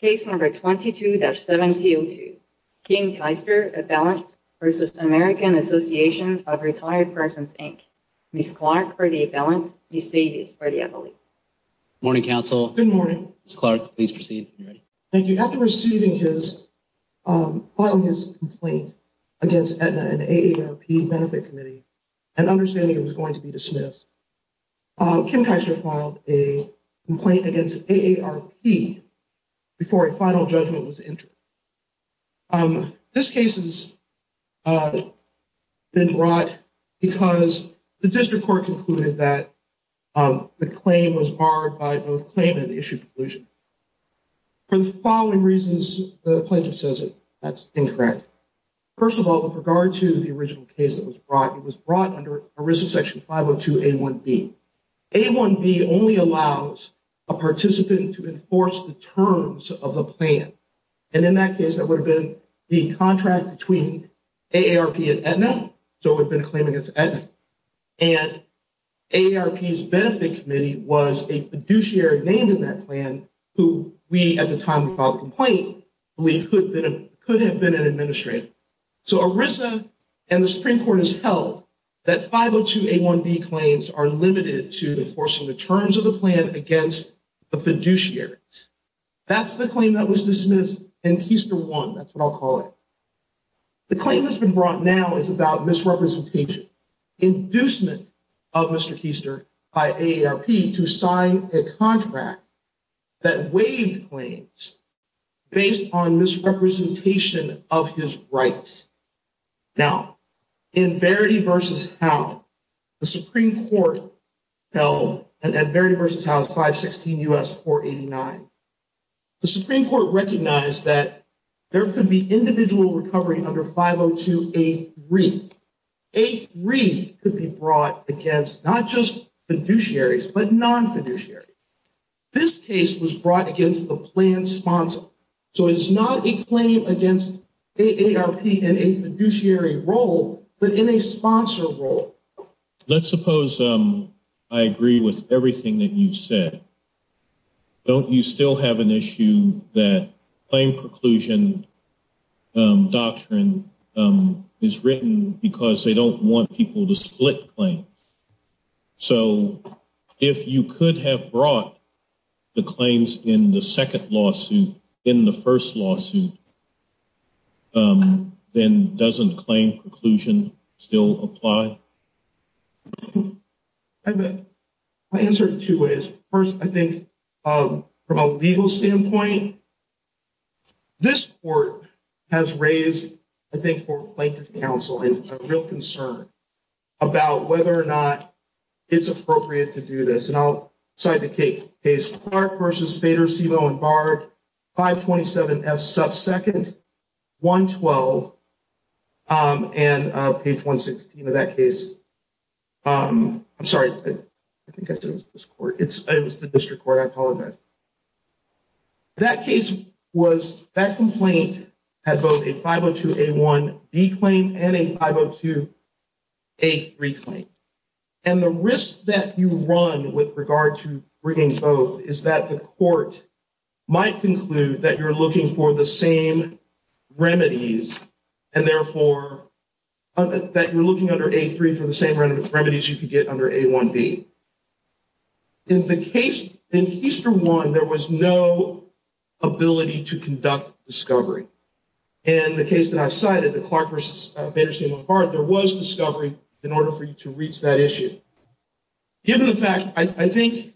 Case number 22-7002, Kim Keister, a balance, versus American Association of Retired Persons, Inc. Ms. Clark for the balance, Ms. Davis for the appellate. Morning, counsel. Good morning. Ms. Clark, please proceed. Thank you. After receiving his, filing his complaint against Aetna, an AARP benefit committee, and understanding it was going to be dismissed, Kim Keister filed a complaint against AARP before a final judgment was entered. This case has been brought because the district court concluded that the claim was barred by both claimant and issued conclusion. For the following reasons, the plaintiff says that that's incorrect. First of all, with regard to the original case that was brought, it was brought under ERISA section 502A1B. A1B only allows a participant to enforce the terms of a plan. And in that case, that would have been the contract between AARP and Aetna. So it would have been a claim against Aetna. And AARP's benefit committee was a fiduciary named in that plan, who we, at the time we filed the complaint, believed could have been an administrator. So ERISA and the Supreme Court has held that 502A1B claims are limited to enforcing the terms of the plan against the fiduciary. That's the claim that was dismissed, and Keister won. That's what I'll call it. The claim that's been brought now is about misrepresentation. The Supreme Court has held that there is no inducement of Mr. Keister by AARP to sign a contract that waived claims based on misrepresentation of his rights. Now, in Verity v. Howe, the Supreme Court held, and at Verity v. Howe, 516 U.S. 489. The Supreme Court recognized that there could be individual recovery under 502A3. A3 could be brought against not just fiduciaries, but non-fiduciaries. This case was brought against the plan sponsor. So it is not a claim against AARP in a fiduciary role, but in a sponsor role. Let's suppose I agree with everything that you've said. Don't you still have an issue that claim preclusion doctrine is written because they don't want people to split claims? So, if you could have brought the claims in the second lawsuit in the first lawsuit, then doesn't claim preclusion still apply? My answer is two ways. First, I think from a legal standpoint, this court has raised, I think, for Plaintiff's Counsel a real concern about whether or not it's appropriate to do this. And I'll cite the case, Clark v. Fader, Silo and Bard, 527F subsecond, 112, and page 116 of that case. I'm sorry. I think I said it was this court. It was the district court. I apologize. That case was, that complaint had both a 502A1B claim and a 502A3 claim. And the risk that you run with regard to bringing both is that the court might conclude that you're looking for the same remedies, and therefore, that you're looking under A3 for the same remedies you could get under A1B. In the case, in Heister 1, there was no ability to conduct discovery. And the case that I've cited, the Clark v. Fader, Silo and Bard, there was discovery in order for you to reach that issue. Given the fact, I think...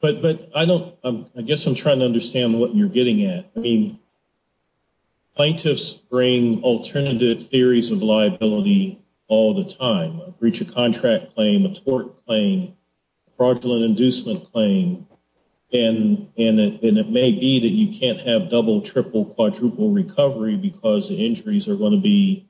But I don't, I guess I'm trying to understand what you're getting at. I mean, plaintiffs bring alternative theories of liability all the time. A breach of contract claim, a tort claim, fraudulent inducement claim. And it may be that you can't have double, triple, quadruple recovery because the injuries are going to be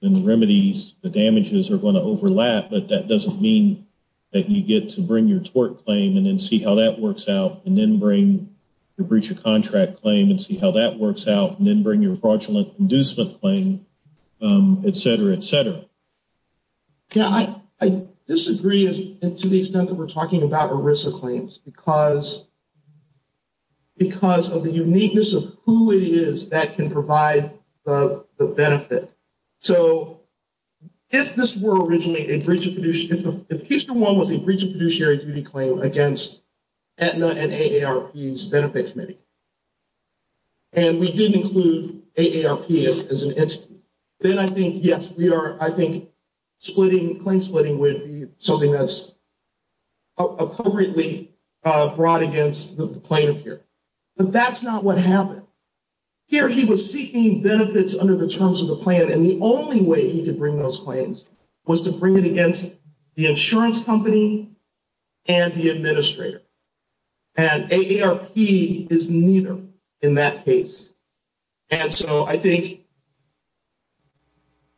in the remedies, the damages are going to overlap. But that doesn't mean that you get to bring your tort claim and then see how that works out and then bring your breach of contract claim and see how that works out and then bring your fraudulent inducement claim, et cetera, et cetera. Yeah, I disagree to the extent that we're talking about ERISA claims because of the uniqueness of who it is that can provide the benefit. So if this were originally a breach of... If Heister 1 was a breach of fiduciary duty claim against Aetna and AARP's benefit committee and we didn't include AARP as an entity, then I think, yes, we are... Splitting, claim splitting would be something that's appropriately brought against the plaintiff here. But that's not what happened. Here, he was seeking benefits under the terms of the plan and the only way he could bring those claims was to bring it against the insurance company and the administrator. And AARP is neither in that case. And so I think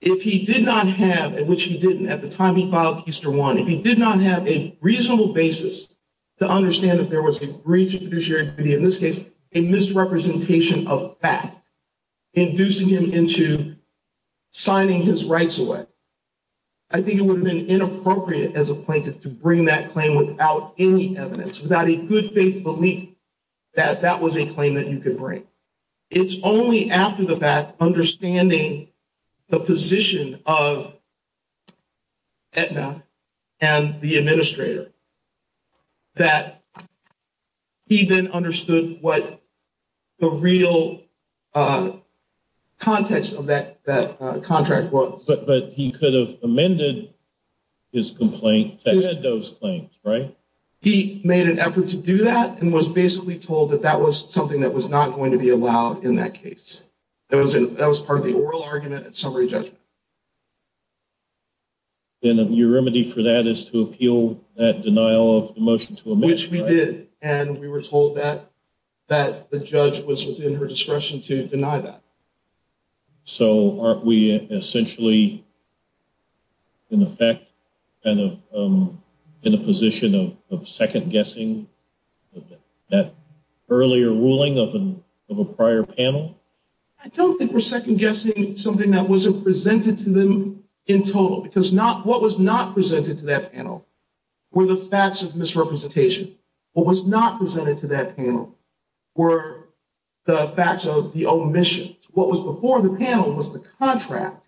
if he did not have, which he didn't at the time he filed Heister 1, if he did not have a reasonable basis to understand that there was a breach of fiduciary duty, in this case, a misrepresentation of fact, inducing him into signing his rights away, I think it would have been inappropriate as a plaintiff to bring that claim without any evidence, without a good faith belief that that was a claim that you could bring. It's only after the fact, understanding the position of Aetna and the administrator, that he then understood what the real context of that contract was. But he could have amended his complaint that had those claims, right? He made an effort to do that and was basically told that that was something that was not going to be allowed in that case. That was part of the oral argument and summary judgment. And your remedy for that is to appeal that denial of the motion to amend, right? Which we did, and we were told that the judge was within her discretion to deny that. So aren't we essentially, in effect, in a position of second-guessing that earlier ruling of a prior panel? I don't think we're second-guessing something that wasn't presented to them in total. Because what was not presented to that panel were the facts of misrepresentation. What was not presented to that panel were the facts of the omission. What was before the panel was the contract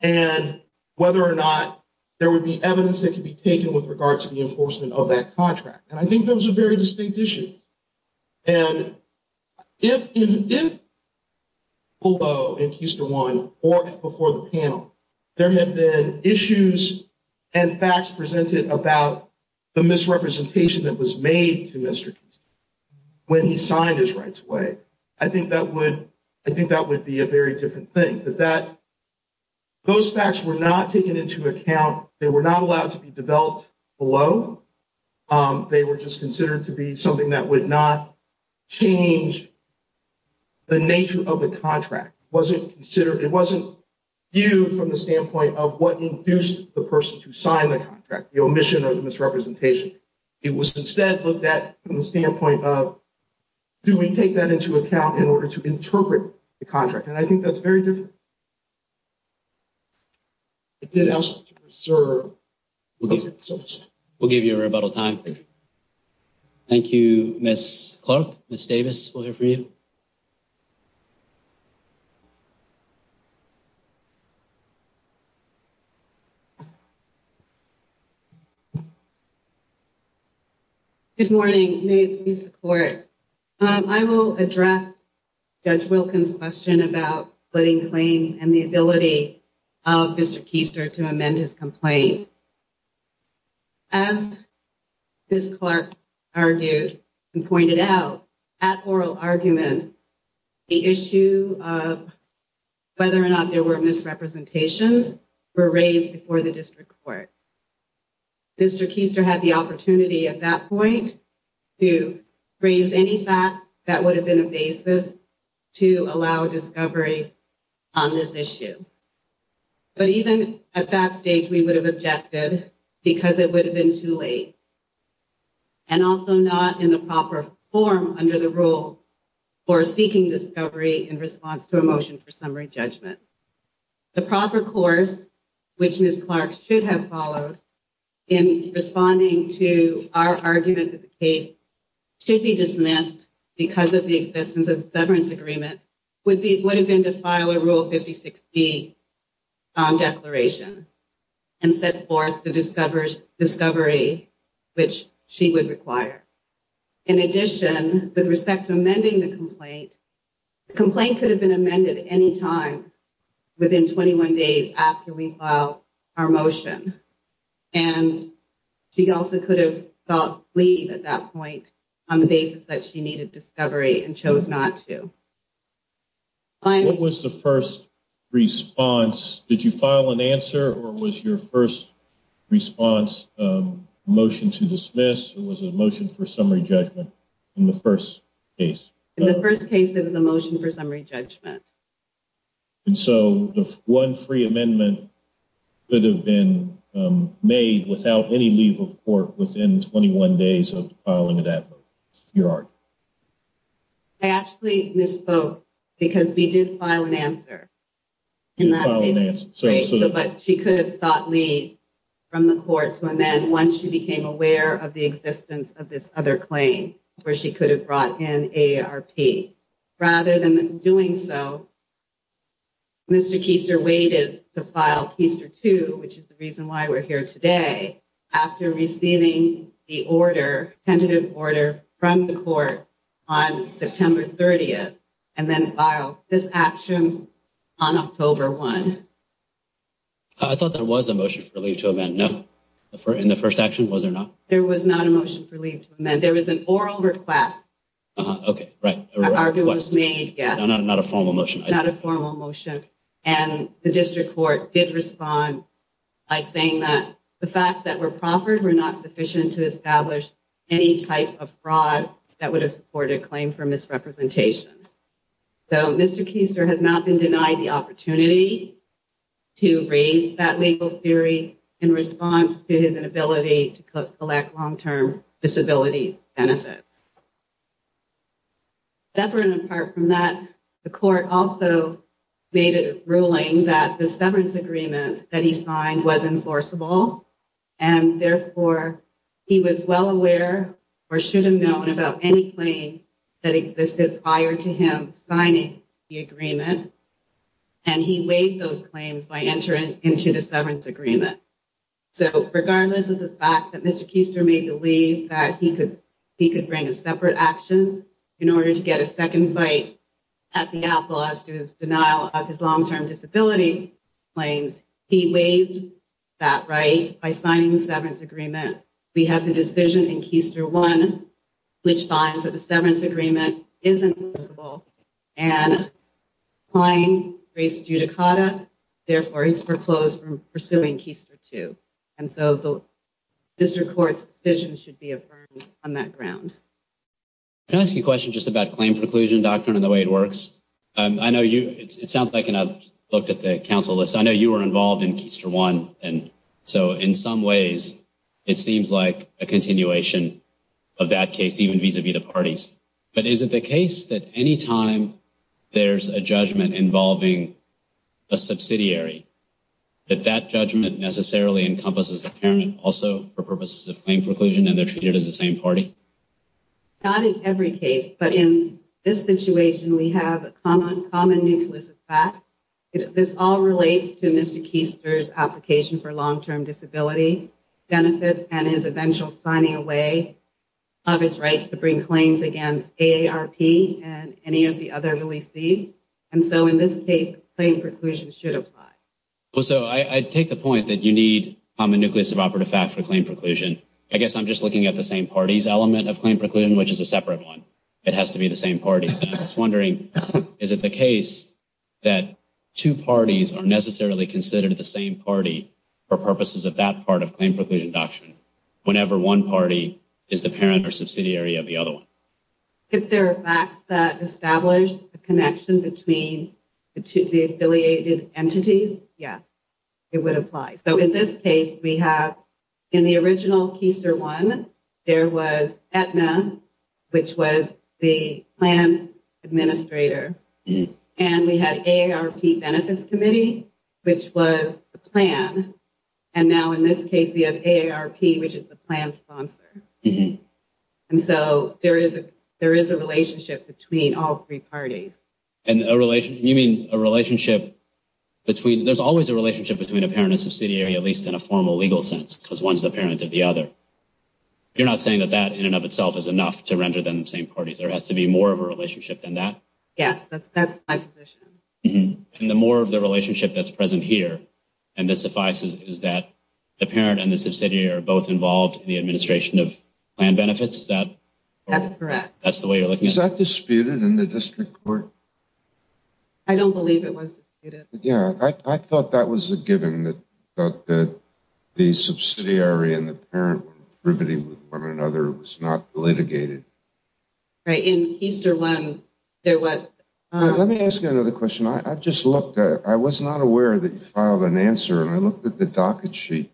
and whether or not there would be evidence that could be taken with regard to the enforcement of that contract. And I think that was a very distinct issue. And if below in Keystone 1 or before the panel, there had been issues and facts presented about the misrepresentation that was made to Mr. Keystone when he signed his rights away, I think that would be a very different thing. But those facts were not taken into account. They were not allowed to be developed below. They were just considered to be something that would not change the nature of the contract. It wasn't viewed from the standpoint of what induced the person to sign the contract, the omission or the misrepresentation. It was instead looked at from the standpoint of, do we take that into account in order to interpret the contract? And I think that's very different. It did ask to preserve. We'll give you a rebuttal time. Thank you, Miss Clark. Miss Davis, we'll hear from you. Good morning. May it please the court. I will address Judge Wilkins' question about splitting claims and the ability of Mr. Keystone to amend his complaint. As Miss Clark argued and pointed out, at oral argument, the issue of whether or not there were misrepresentations were raised before the district court. Mr. Keystone had the opportunity at that point to raise any fact that would have been a basis to allow discovery on this issue. But even at that stage, we would have objected because it would have been too late. And also not in the proper form under the rule for seeking discovery in response to a motion for summary judgment. The proper course, which Miss Clark should have followed in responding to our argument that the case should be dismissed because of the existence of a severance agreement, would have been to file a Rule 5060 declaration and set forth the discovery which she would require. In addition, with respect to amending the complaint, the complaint could have been amended any time within 21 days after we filed our motion. And she also could have sought leave at that point on the basis that she needed discovery and chose not to. What was the first response? Did you file an answer or was your first response a motion to dismiss or was it a motion for summary judgment in the first case? In the first case, it was a motion for summary judgment. And so one free amendment could have been made without any leave of court within 21 days of filing of that vote. Your argument? I actually misspoke because we did file an answer. You filed an answer. But she could have sought leave from the court to amend once she became aware of the existence of this other claim where she could have brought in AARP. Rather than doing so, Mr. Keister waited to file Keister 2, which is the reason why we're here today, after receiving the order, tentative order, from the court on September 30th and then filed this action on October 1. I thought there was a motion for leave to amend. No? In the first action, was there not? There was not a motion for leave to amend. There was an oral request. Okay, right. An oral request. Not a formal motion. Not a formal motion. And the district court did respond by saying that the fact that we're proffered were not sufficient to establish any type of fraud that would have supported a claim for misrepresentation. So Mr. Keister has not been denied the opportunity to raise that legal theory in response to his inability to collect long-term disability benefits. Separate and apart from that, the court also made a ruling that the severance agreement that he signed was enforceable. And therefore, he was well aware or should have known about any claim that existed prior to him signing the agreement. And he waived those claims by entering into the severance agreement. So, regardless of the fact that Mr. Keister may believe that he could bring a separate action in order to get a second bite at the appeal as to his denial of his long-term disability claims, he waived that right by signing the severance agreement. We have the decision in Keister 1, which finds that the severance agreement is enforceable. And applying race judicata, therefore, he's foreclosed from pursuing Keister 2. And so, the district court's decision should be affirmed on that ground. Can I ask you a question just about claim preclusion doctrine and the way it works? I know you, it sounds like, and I've looked at the council list, I know you were involved in Keister 1. And so, in some ways, it seems like a continuation of that case, even vis-a-vis the parties. But is it the case that any time there's a judgment involving a subsidiary, that that judgment necessarily encompasses the parent also for purposes of claim preclusion and they're treated as the same party? Not in every case. But in this situation, we have a common nucleus of fact. This all relates to Mr. Keister's application for long-term disability benefits and his eventual signing away of his rights to bring claims against AARP and any of the other releases. And so, in this case, claim preclusion should apply. So, I take the point that you need a common nucleus of operative fact for claim preclusion. I guess I'm just looking at the same party's element of claim preclusion, which is a separate one. It has to be the same party. I was wondering, is it the case that two parties are necessarily considered the same party for purposes of that part of claim preclusion doctrine, whenever one party is the parent or subsidiary of the other one? If there are facts that establish the connection between the affiliated entities, yes, it would apply. So, in this case, we have, in the original Keister one, there was Aetna, which was the plan administrator. And we had AARP Benefits Committee, which was the plan. And now, in this case, we have AARP, which is the plan sponsor. And so, there is a relationship between all three parties. And you mean a relationship between... There's always a relationship between a parent and subsidiary, at least in a formal legal sense, because one is the parent of the other. You're not saying that that, in and of itself, is enough to render them the same parties. There has to be more of a relationship than that? Yes, that's my position. And the more of the relationship that's present here, and this suffices, is that the parent and the subsidiary are both involved in the administration of plan benefits? That's the way you're looking at it? Was that disputed in the district court? I don't believe it was disputed. Yeah, I thought that was a given, that the subsidiary and the parent were contributing with one another. It was not litigated. Right, in Keister one, there was... Let me ask you another question. I've just looked. I was not aware that you filed an answer, and I looked at the docket sheet.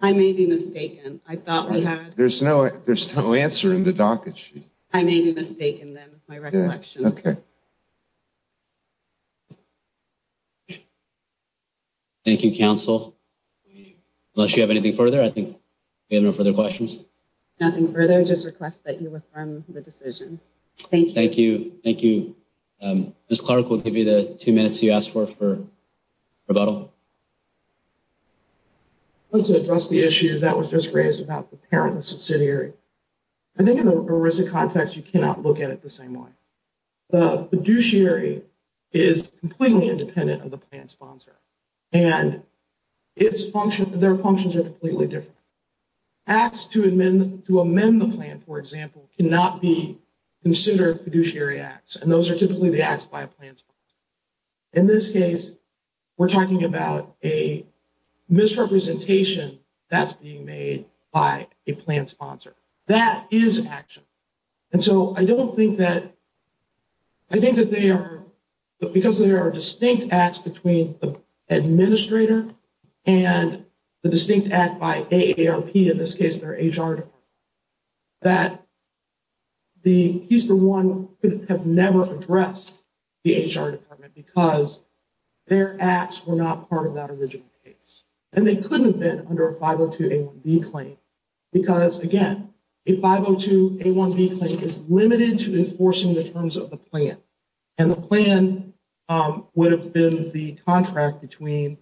I may be mistaken. I thought we had... There's no answer in the docket sheet. I may be mistaken, then, with my recollection. Okay. Thank you, counsel. Unless you have anything further, I think we have no further questions. Nothing further. I just request that you affirm the decision. Thank you. Thank you. Thank you. Ms. Clark, we'll give you the two minutes you asked for, for rebuttal. I'd like to address the issue that was just raised about the parent and subsidiary. I think in the ERISA context, you cannot look at it the same way. The fiduciary is completely independent of the plan sponsor, and their functions are completely different. Acts to amend the plan, for example, cannot be considered fiduciary acts, and those are typically the acts by a plan sponsor. In this case, we're talking about a misrepresentation that's being made by a plan sponsor. That is action. And so I don't think that... I think that they are... Because there are distinct acts between the administrator and the distinct act by AARP, in this case their HR department, that the HESA 1 could have never addressed the HR department because their acts were not part of that original case. And they couldn't have been under a 502A1B claim. Because, again, a 502A1B claim is limited to enforcing the terms of the plan. And the plan would have been the insurance contract between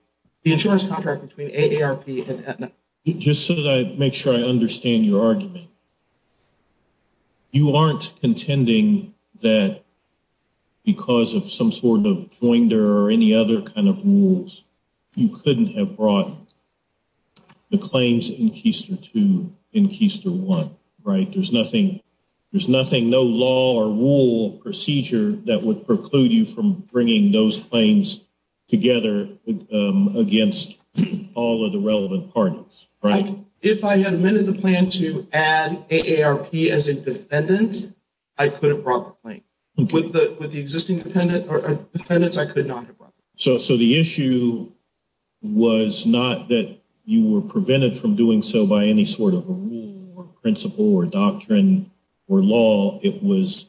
AARP and Aetna. Just so that I make sure I understand your argument, you aren't contending that because of some sort of joinder or any other kind of rules, you couldn't have brought the claims in Keyster 2 in Keyster 1, right? There's nothing, no law or rule or procedure that would preclude you from bringing those claims together against all of the relevant parties, right? If I had amended the plan to add AARP as a defendant, I could have brought the claim. With the existing defendant, I could not have brought the claim. So the issue was not that you were prevented from doing so by any sort of a rule or principle or doctrine or law. It was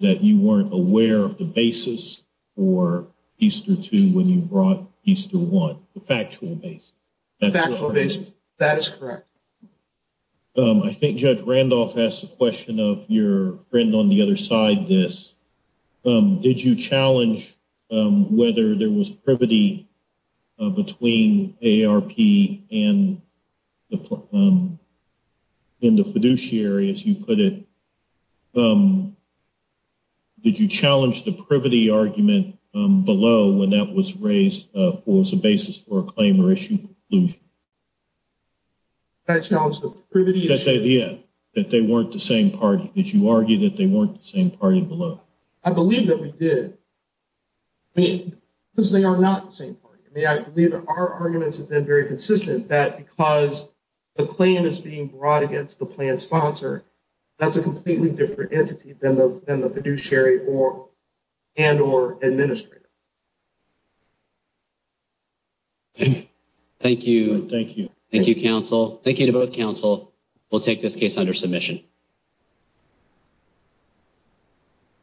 that you weren't aware of the basis for Keyster 2 when you brought Keyster 1, the factual basis. Factual basis, that is correct. I think Judge Randolph asked a question of your friend on the other side this. Did you challenge whether there was privity between AARP and the fiduciary, as you put it? Did you challenge the privity argument below when that was raised as a basis for a claim or issue? I challenged the privity issue. Did you say at the end that they weren't the same party? Did you argue that they weren't the same party below? I believe that we did because they are not the same party. I believe our arguments have been very consistent that because the claim is being brought against the plan sponsor, that's a completely different entity than the fiduciary and or administrator. Thank you. Thank you. Thank you, counsel. Thank you to both counsel. We'll take this case under submission.